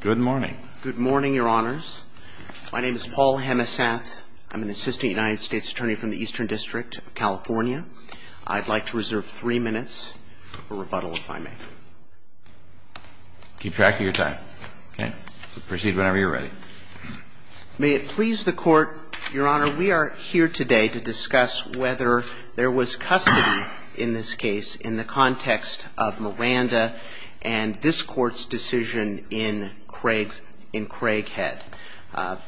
Good morning. Good morning, Your Honors. My name is Paul Hemesath. I'm an assistant United States attorney from the Eastern District of California. I'd like to reserve three minutes for rebuttal, if I may. Keep track of your time. Proceed whenever you're ready. May it please the Court, Your Honor, we are here today to discuss whether there was custody in this case in the context of Miranda and this Court's decision in Craig's — in Craighead.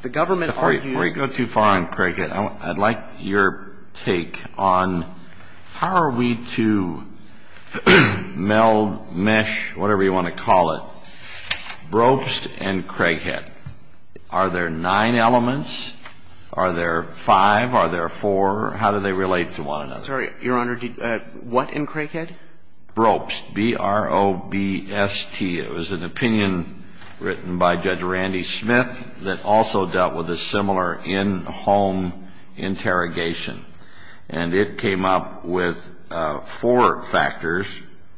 The government argues— Before you go too far on Craighead, I'd like your take on how are we to meld, mesh, whatever you want to call it, Brobst and Craighead? Are there nine elements? Are there five? Are there four? How do they relate to one another? I'm sorry, Your Honor, what in Craighead? Brobst, B-R-O-B-S-T. It was an opinion written by Judge Randy Smith that also dealt with a similar in-home interrogation. And it came up with four factors,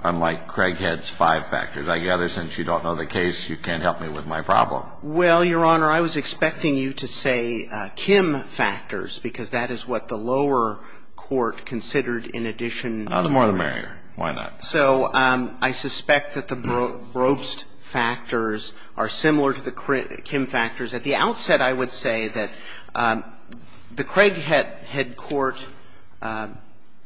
unlike Craighead's five factors. I gather since you don't know the case, you can't help me with my problem. Well, Your Honor, I was expecting you to say Kim factors, because that is what the lower court considered in addition— I was more of the mayor. Why not? So I suspect that the Brobst factors are similar to the Kim factors. At the outset, I would say that the Craighead head court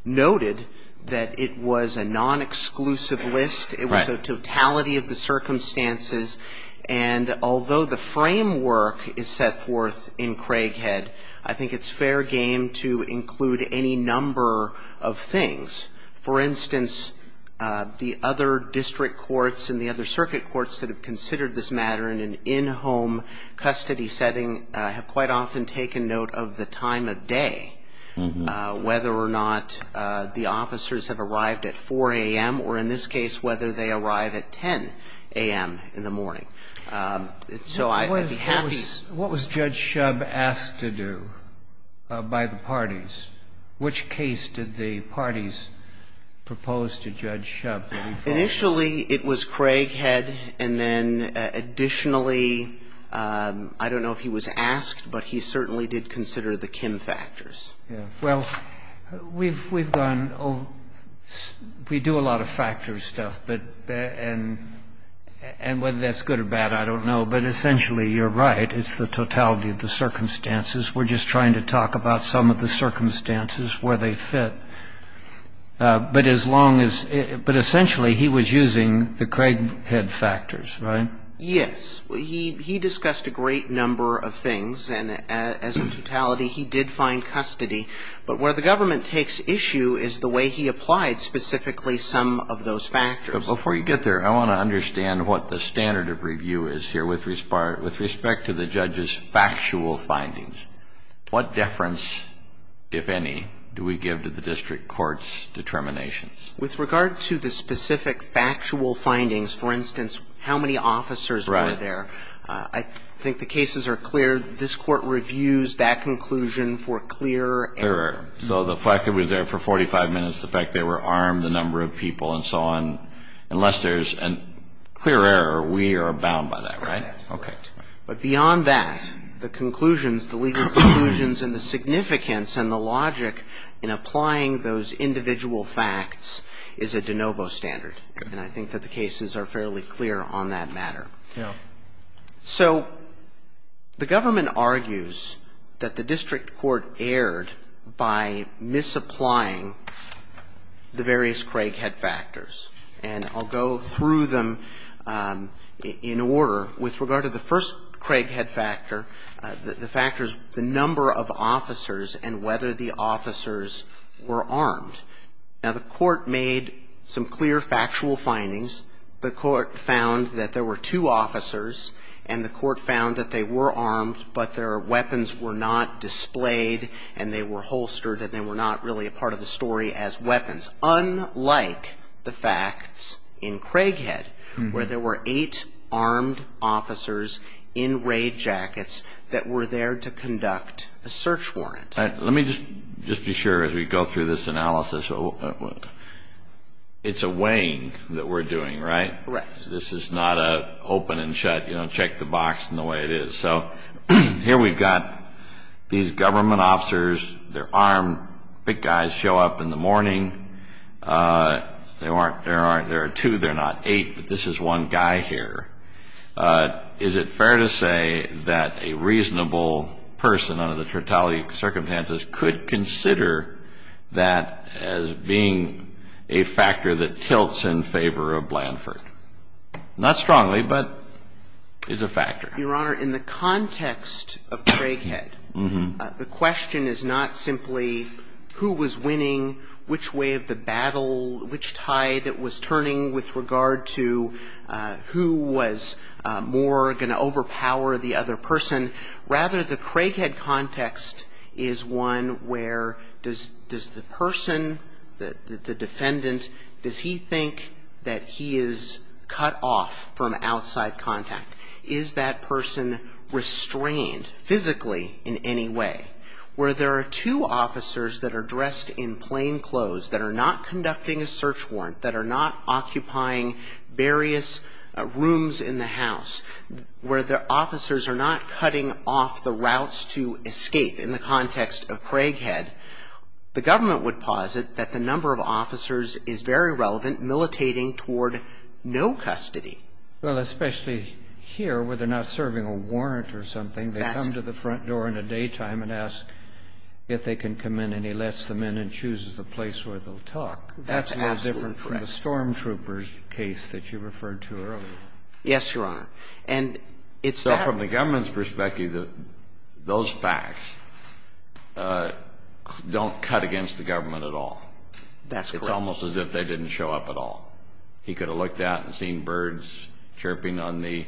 noted that it was a non-exclusive list. It was a totality of the circumstances. And although the framework is set forth in Craighead, I think it's fair game to include any number of things. For instance, the other district courts and the other circuit courts that have considered this matter in an in-home custody setting have quite often taken note of the time of day, whether or not the officers have arrived at 4 AM, or in this case, whether they arrive at 10 AM in the morning. So I'd be happy— What was Judge Shub asked to do by the parties? Which case did the parties propose to Judge Shub? Initially, it was Craighead. And then additionally, I don't know if he was asked, but he certainly did consider the Kim factors. Well, we've gone over— we do a lot of factor stuff, and whether that's good or bad, I don't know. But essentially, you're right. It's the totality of the circumstances. We're just trying to talk about some of the circumstances, where they fit. But as long as— but essentially, he was using the Craighead factors, right? Yes. He discussed a great number of things. And as a totality, he did find custody. But where the government takes issue is the way he applied specifically some of those factors. Before you get there, I want to understand what the standard of review is here with respect to the judge's factual findings. What deference, if any, do we give to the district court's determinations? With regard to the specific factual findings, for instance, how many officers were there, I think the cases are clear. This court reviews that conclusion for clear error. So the fact that it was there for 45 minutes, the fact they were armed, the number of people, and so on. Unless there's a clear error, we are bound by that, right? OK. But beyond that, the conclusions, the legal conclusions, and the significance, and the logic in applying those individual facts is a de novo standard. And I think that the cases are fairly clear on that matter. So the government argues that the district court erred by misapplying the various Craighead factors. And I'll go through them in order. With regard to the first Craighead factor, the factor is the number of officers and whether the officers were armed. Now, the court made some clear factual findings. The court found that there were two officers, and the court found that they were armed, but their weapons were not displayed, and they were holstered, and they were not really a part of the story as weapons. Unlike the facts in Craighead, where there were eight armed officers in raid jackets that were there to conduct a search warrant. Let me just be sure, as we go through this analysis, it's a weighing that we're doing, right? Right. This is not a open and shut, you know, check the box and the way it is. So here we've got these government officers. They're armed. Big guys show up in the morning. There are two. They're not eight, but this is one guy here. Is it fair to say that a reasonable person under the totality of circumstances could consider that as being a factor that tilts in favor of Blanford? Not strongly, but it's a factor. Your Honor, in the context of Craighead, the question is not simply who was winning, which way of the battle, which tide it was turning with regard to who was more going to overpower the other person. Rather, the Craighead context is one where does the person, the defendant, does he think that he is cut off from outside contact? Is that person restrained physically in any way? Where there are two officers that are dressed in plain clothes that are not conducting a search warrant, that are not occupying various rooms in the house, where the officers are not cutting off the routes to escape in the context of Craighead, the government would posit that the number of officers is very relevant, militating toward no custody. Well, especially here, where they're not serving a warrant or something. They come to the front door in the daytime and ask if they can come in. And he lets them in and chooses the place where they'll talk. That's absolutely correct. That's more different from the stormtrooper's case that you referred to earlier. Yes, Your Honor. And it's that. So from the government's perspective, those facts don't cut against the government at all. That's correct. It's almost as if they didn't show up at all. He could have looked out and seen birds chirping on the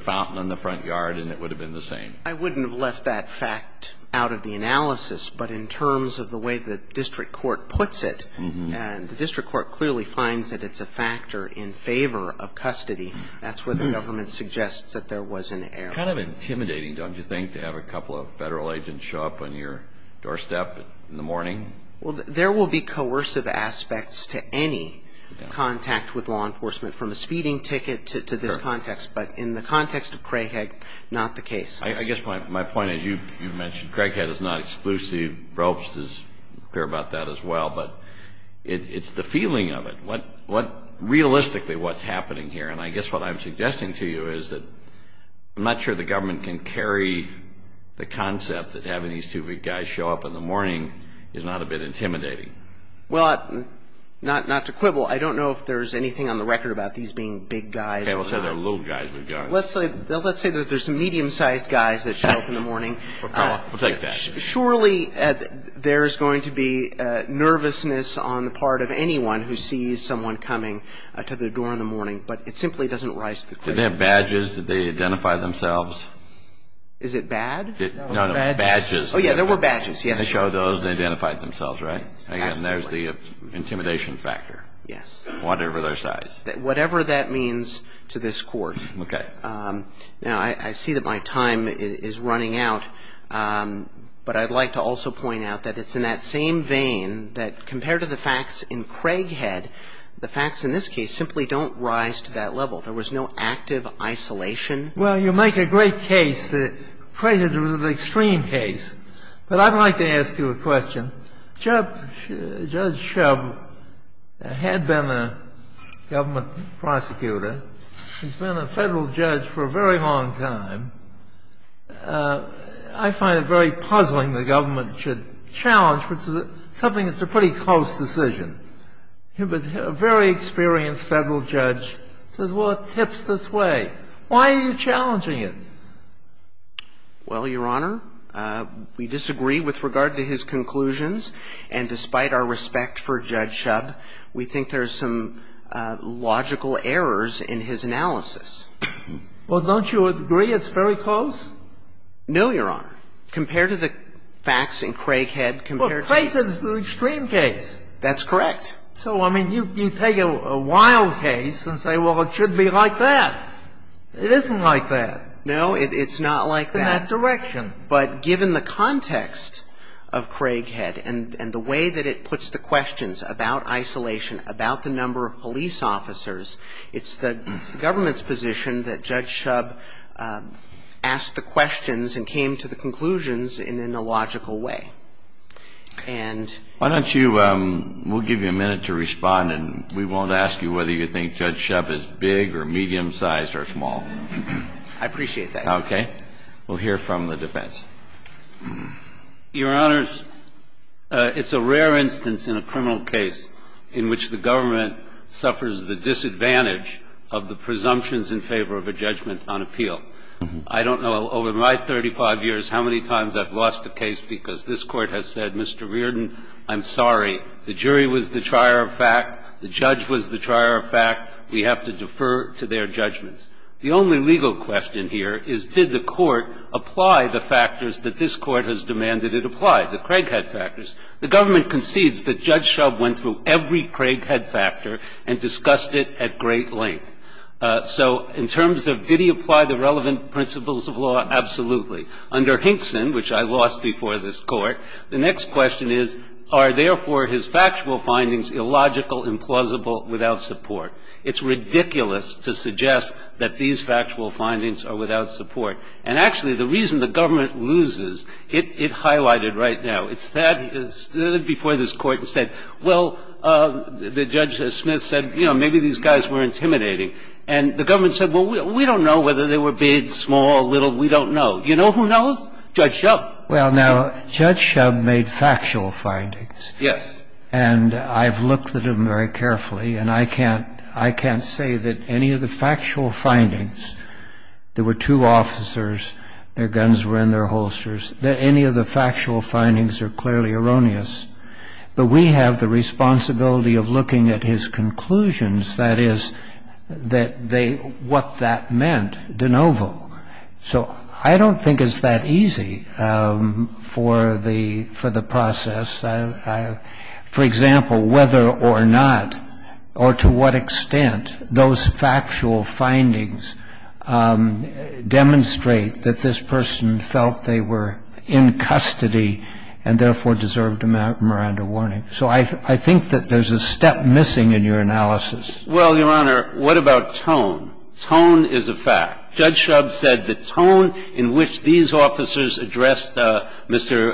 fountain in the front yard, and it would have been the same. I wouldn't have left that fact out of the analysis. But in terms of the way the district court puts it, and the district court clearly finds that it's a factor in favor of custody, that's where the government suggests that there was an error. Kind of intimidating, don't you think, to have a couple of federal agents show up on your doorstep in the morning? Well, there will be coercive aspects to any contact with law enforcement, from a speeding ticket to this context. But in the context of Craighead, not the case. I guess my point is, you mentioned Craighead is not exclusive. Ropes is clear about that as well. But it's the feeling of it. Realistically, what's happening here, and I guess what I'm suggesting to you is that I'm not sure the government can carry the concept that having these two big guys show up in the morning is not a bit intimidating. Well, not to quibble, I don't know if there's anything on the record about these being big guys. Okay, let's say they're little guys. Let's say that there's some medium-sized guys that show up in the morning. We'll take that. Surely, there's going to be nervousness on the part of anyone who sees someone coming to the door in the morning. But it simply doesn't rise to the question. Did they have badges? Did they identify themselves? Is it bad? No, no, badges. Oh, yeah, there were badges, yes. They showed those and identified themselves, right? Absolutely. Again, there's the intimidation factor. Yes. Whatever their size. Whatever that means to this Court. Okay. Now, I see that my time is running out, but I'd like to also point out that it's in that same vein that compared to the facts in Craighead, the facts in this case simply don't rise to that level. There was no active isolation. Well, you make a great case. Craighead was an extreme case. But I'd like to ask you a question. Judge Shub had been a government prosecutor. He's been a federal judge for a very long time. I find it very puzzling the government should challenge, which is something that's a pretty close decision. He was a very experienced federal judge. Says, well, it tips this way. Why are you challenging it? Well, Your Honor, we disagree with regard to his conclusions, and despite our respect for Judge Shub, we think there's some logical errors in his analysis. Well, don't you agree it's very close? No, Your Honor. Compared to the facts in Craighead, compared to- Well, Craighead is an extreme case. That's correct. So, I mean, you take a wild case and say, well, it should be like that. It isn't like that. No, it's not like that. In that direction. But given the context of Craighead and the way that it puts the questions about isolation, about the number of police officers, it's the government's position that Judge Shub asked the questions and came to the conclusions in a logical way. And- Why don't you, we'll give you a minute to respond, and we won't ask you whether you think Judge Shub is big or medium-sized or small. I appreciate that. Okay. We'll hear from the defense. Your Honors, it's a rare instance in a criminal case in which the government suffers the disadvantage of the presumptions in favor of a judgment on appeal. I don't know over my 35 years how many times I've lost a case because this Court has said, Mr. Reardon, I'm sorry, the jury was the trier of fact, the judge was the trier of fact, we have to defer to their judgments. The only legal question here is, did the court apply the factors that this court has demanded it apply, the Craighead factors? The government concedes that Judge Shub went through every Craighead factor and discussed it at great length. So in terms of, did he apply the relevant principles of law? Absolutely. Under Hinkson, which I lost before this court, the next question is, are therefore his factual findings illogical, implausible, without support? It's ridiculous to suggest that these factual findings are without support. And actually, the reason the government loses, it highlighted right now. It stood before this Court and said, well, Judge Smith said maybe these guys were intimidating. And the government said, well, we don't know whether they were big, small, little, we don't know. You know who knows? Judge Shub. Well, now, Judge Shub made factual findings. Yes. And I've looked at him very carefully. And I can't say that any of the factual findings, there were two officers, their guns were in their holsters, that any of the factual findings are clearly erroneous. But we have the responsibility of looking at his conclusions, that is, what that meant de novo. So I don't think it's that easy for the process. For example, whether or not, or to what extent, those factual findings demonstrate that this person felt they were in custody and therefore deserved a Miranda warning. So I think that there's a step missing in your analysis. Well, Your Honor, what about tone? Tone is a fact. Judge Shub said the tone in which these officers addressed Mr.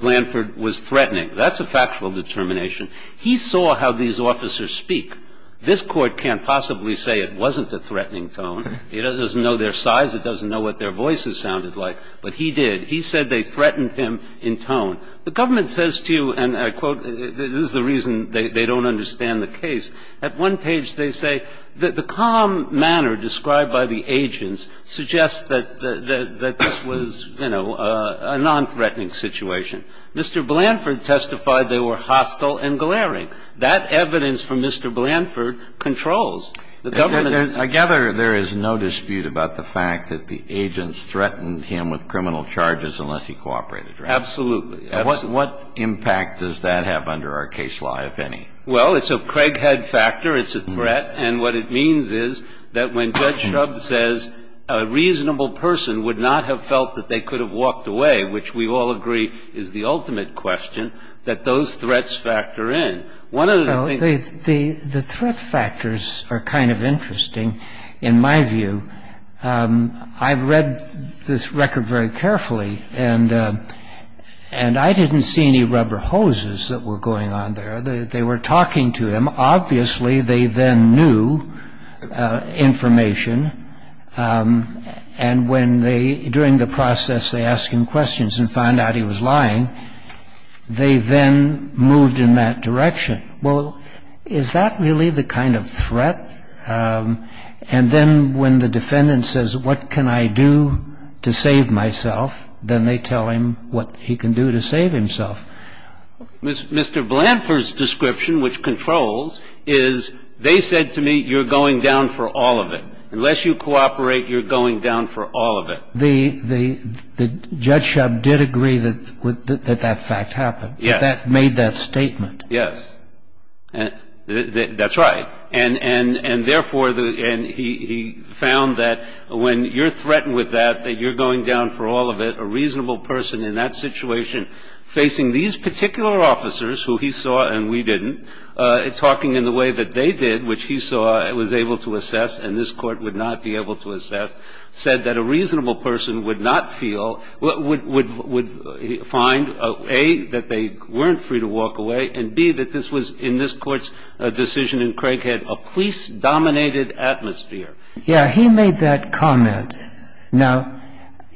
Blanford was threatening. That's a factual determination. He saw how these officers speak. This Court can't possibly say it wasn't a threatening tone. It doesn't know their size. It doesn't know what their voices sounded like. But he did. He said they threatened him in tone. The government says to you, and I quote, this is the reason they don't understand the case. At one page, they say that the calm manner described by the agents suggests that this was, you know, a nonthreatening situation. Mr. Blanford testified they were hostile and glaring. That evidence from Mr. Blanford controls the government. I gather there is no dispute about the fact that the agents threatened him with criminal charges unless he cooperated, right? Absolutely. What impact does that have under our case law, if any? Well, it's a Craighead factor. It's a threat. And what it means is that when Judge Shub says a reasonable person would not have felt that they could have walked away, which we all agree is the ultimate question, that those threats factor in. One of the things the threat factors are kind of interesting, in my view. I read this record very carefully, and I didn't see any rubber hoses that were going on there. They were talking to him. Obviously, they then knew information. And when they, during the process, they asked him questions and found out he was lying, they then moved in that direction. Well, is that really the kind of threat? And then when the defendant says, what can I do to save myself? Then they tell him what he can do to save himself. Mr. Blanford's description, which controls, is, they said to me, you're going down for all of it. Unless you cooperate, you're going down for all of it. The Judge Shub did agree that that fact happened. Yes. That made that statement. Yes, that's right. And therefore, he found that when you're threatened with that, that you're going down for all of it, a reasonable person in that situation facing these particular officers, who he saw and we didn't, talking in the way that they did, which he saw and was able to assess and this Court would not be able to assess, said that a reasonable person would not feel, would find, A, that they weren't free to walk away, and B, that this was, in this Court's decision in Craighead, a police-dominated atmosphere. Yeah, he made that comment. Now,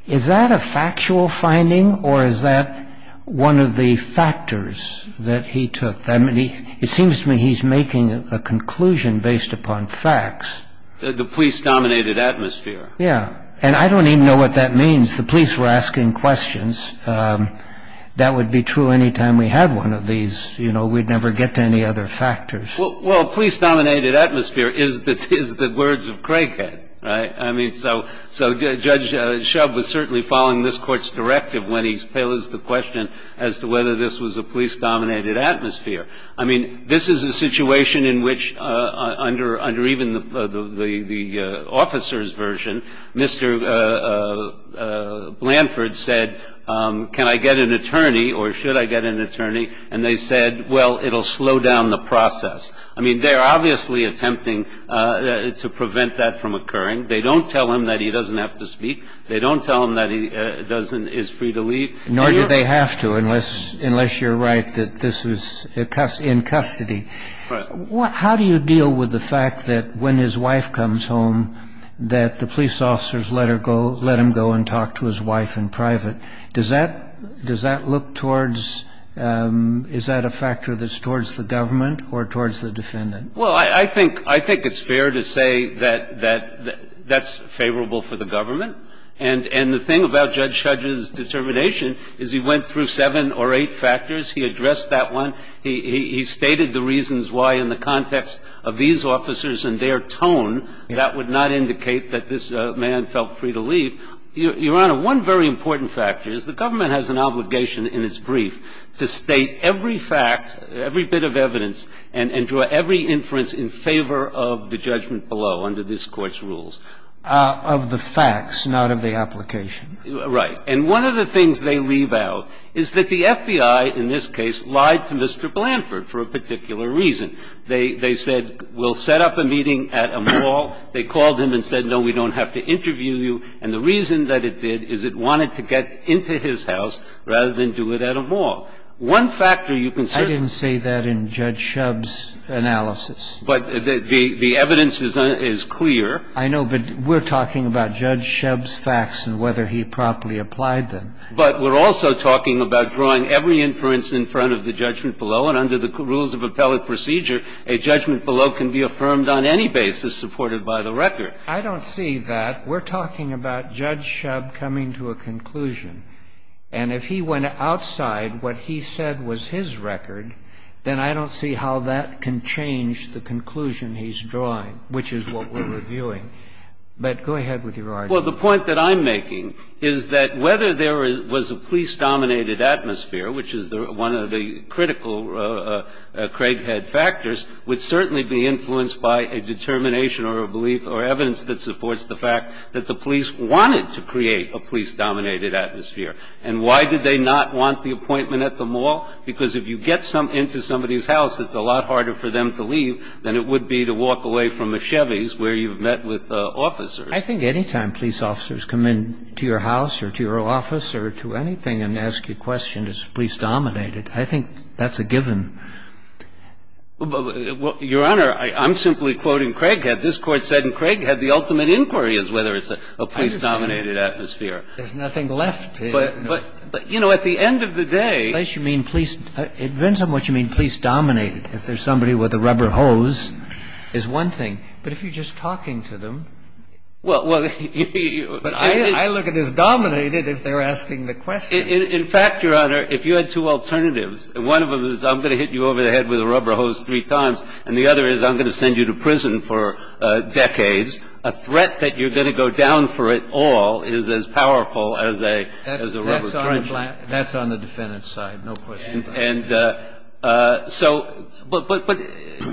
is that a factual finding, or is that one of the factors that he took? I mean, it seems to me he's making a conclusion based upon facts. The police-dominated atmosphere. Yeah. And I don't even know what that means. The police were asking questions. That would be true any time we had one of these. You know, we'd never get to any other factors. Well, police-dominated atmosphere is the words of Craighead, right? I mean, so Judge Shub was certainly following this Court's directive when he posed the question as to whether this was a police-dominated atmosphere. I mean, this is a situation in which, under even the officer's version, Mr. Blanford said, can I get an attorney, or should I get an attorney? And they said, well, it'll slow down the process. I mean, they're obviously attempting to prevent that from occurring. They don't tell him that he doesn't have to speak. They don't tell him that he is free to leave. Nor do they have to, unless you're right that this was in custody. Right. How do you deal with the fact that when his wife comes home, that the police officers let him go and talk to his wife in private? Does that look towards, is that a factor that's towards the government or towards the defendant? Well, I think it's fair to say that that's favorable for the government. And the thing about Judge Shub's determination is he went through seven or eight factors. He addressed that one. He stated the reasons why, in the context of these officers and their tone, that would not indicate that this man felt free to leave. Your Honor, one very important factor is the government has an obligation in its brief to state every fact, every bit of evidence, and draw every inference in favor of the judgment below, under this Court's rules. Of the facts, not of the application. Right. And one of the things they leave out is that the FBI, in this case, lied to Mr. Blanford for a particular reason. They said, we'll set up a meeting at a mall. They called him and said, no, we don't have to interview you. And the reason that it did is it wanted to get into his house rather than do it at a mall. One factor you can say that in Judge Shub's analysis. But the evidence is clear. I know, but we're talking about Judge Shub's facts and whether he properly applied them. But we're also talking about drawing every inference in front of the judgment below. And under the rules of appellate procedure, a judgment below can be affirmed on any basis supported by the record. I don't see that. We're talking about Judge Shub coming to a conclusion. And if he went outside what he said was his record, then I don't see how that can change the conclusion he's drawing, which is what we're reviewing. But go ahead with your argument. Well, the point that I'm making is that whether there was a police-dominated atmosphere, which is one of the critical Craighead factors, would certainly be influenced by a determination or a belief or evidence that supports the fact that the police wanted to create a police-dominated atmosphere. And why did they not want the appointment at the mall? Because if you get into somebody's house, it's a lot harder for them to leave than it would be to walk away from a Chevy's where you've met with officers. I think any time police officers come into your house or to your office or to anything and ask you questions, it's police-dominated. I think that's a given. Your Honor, I'm simply quoting Craighead. This Court said in Craighead the ultimate inquiry is whether it's a police-dominated atmosphere. There's nothing left to it. But, you know, at the end of the day you mean police – it depends on what you mean, police-dominated. If there's somebody with a rubber hose is one thing. But if you're just talking to them, I look at it as dominated if they're asking the question. In fact, Your Honor, if you had two alternatives, one of them is I'm going to hit you over the head with a rubber hose three times, and the other is I'm going to send you to prison for decades, a threat that you're going to go down for it all is as powerful as a rubber trench. That's on the defendant's side, no question. And so – but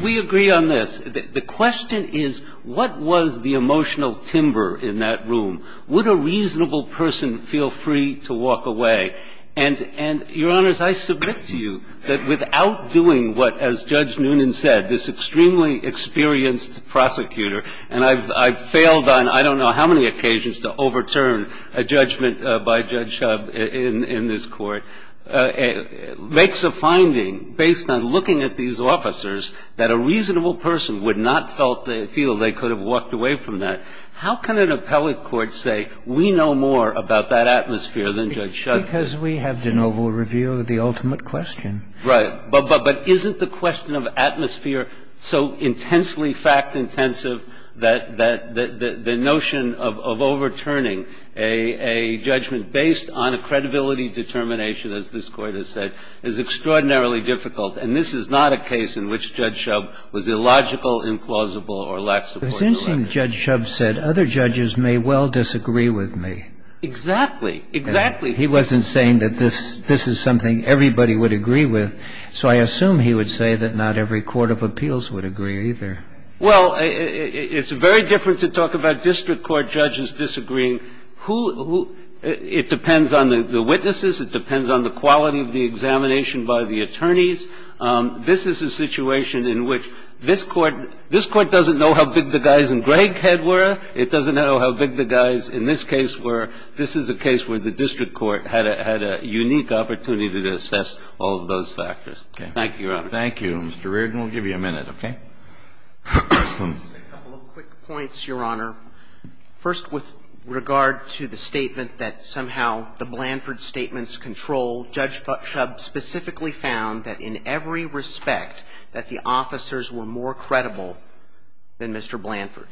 we agree on this. The question is what was the emotional timber in that room? Would a reasonable person feel free to walk away? And, Your Honors, I submit to you that without doing what, as Judge Noonan said, this extremely experienced prosecutor – and I've failed on I don't know how many occasions to overturn a judgment by Judge Shubb in this Court – makes a finding based on looking at these officers that a reasonable person would not feel they could have walked away from that. How can an appellate court say we know more about that atmosphere than Judge Shubb? Because we have de novo review of the ultimate question. Right. But isn't the question of atmosphere so intensely fact-intensive that the notion of overturning a judgment based on a credibility determination, as this Court has said, is extraordinarily difficult? And this is not a case in which Judge Shubb was illogical, implausible, or lax in court direction. It's interesting that Judge Shubb said, other judges may well disagree with me. Exactly. Exactly. He wasn't saying that this is something everybody would agree with. So I assume he would say that not every court of appeals would agree either. Well, it's very different to talk about district court judges disagreeing. Who – it depends on the witnesses. It depends on the quality of the examination by the attorneys. This is a situation in which this Court – this Court doesn't know how big the guys in Greghead were. It doesn't know how big the guys in this case were. This is a case where the district court had a unique opportunity to assess all of those factors. Thank you, Your Honor. Thank you, Mr. Reardon. We'll give you a minute, okay? A couple of quick points, Your Honor. First, with regard to the statement that somehow the Blanford statements control, Judge Shubb specifically found that in every respect that the officers were more credible than Mr. Blanford.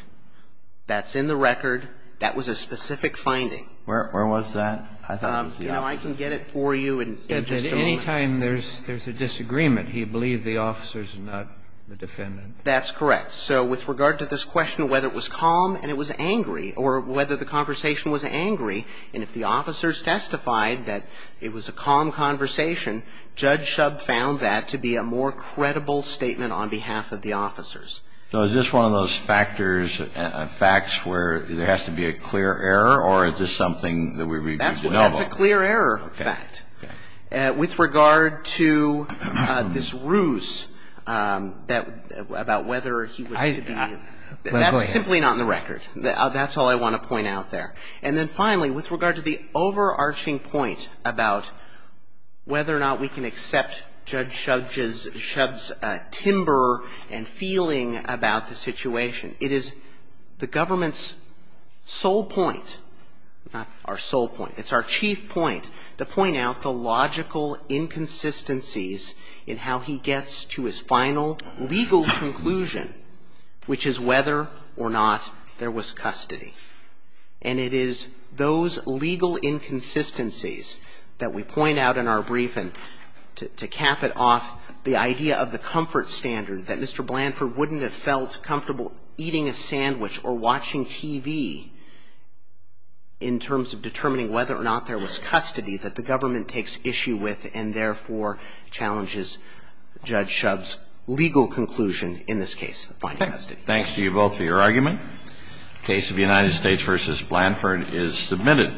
That's in the record. That was a specific finding. Where was that? I thought it was the officers. You know, I can get it for you in just a moment. Any time there's a disagreement, he believed the officers, not the defendant. That's correct. So with regard to this question of whether it was calm and it was angry or whether the conversation was angry, and if the officers testified that it was a calm conversation, Judge Shubb found that to be a more credible statement on behalf of the officers. So is this one of those factors, facts, where there has to be a clear error, or is this something that we review de novo? That's a clear error fact. With regard to this ruse about whether he was to be, that's simply not in the record. That's all I want to point out there. And then finally, with regard to the overarching point about whether or not we can accept Judge Shubb's timber and feeling about the situation, it is the government's sole point, not our sole point, it's our chief point, to point out the logical inconsistencies in how he gets to his final legal conclusion, which is whether or not there was custody. And it is those legal inconsistencies that we point out in our brief and to cap it off the idea of the comfort standard that Mr. Blanford wouldn't have felt comfortable eating a sandwich or watching TV in terms of determining whether or not there was custody that the government takes issue with and therefore challenges Judge Shubb's legal conclusion in this case. Thanks to you both for your argument. Case of United States v. Blanford is submitted.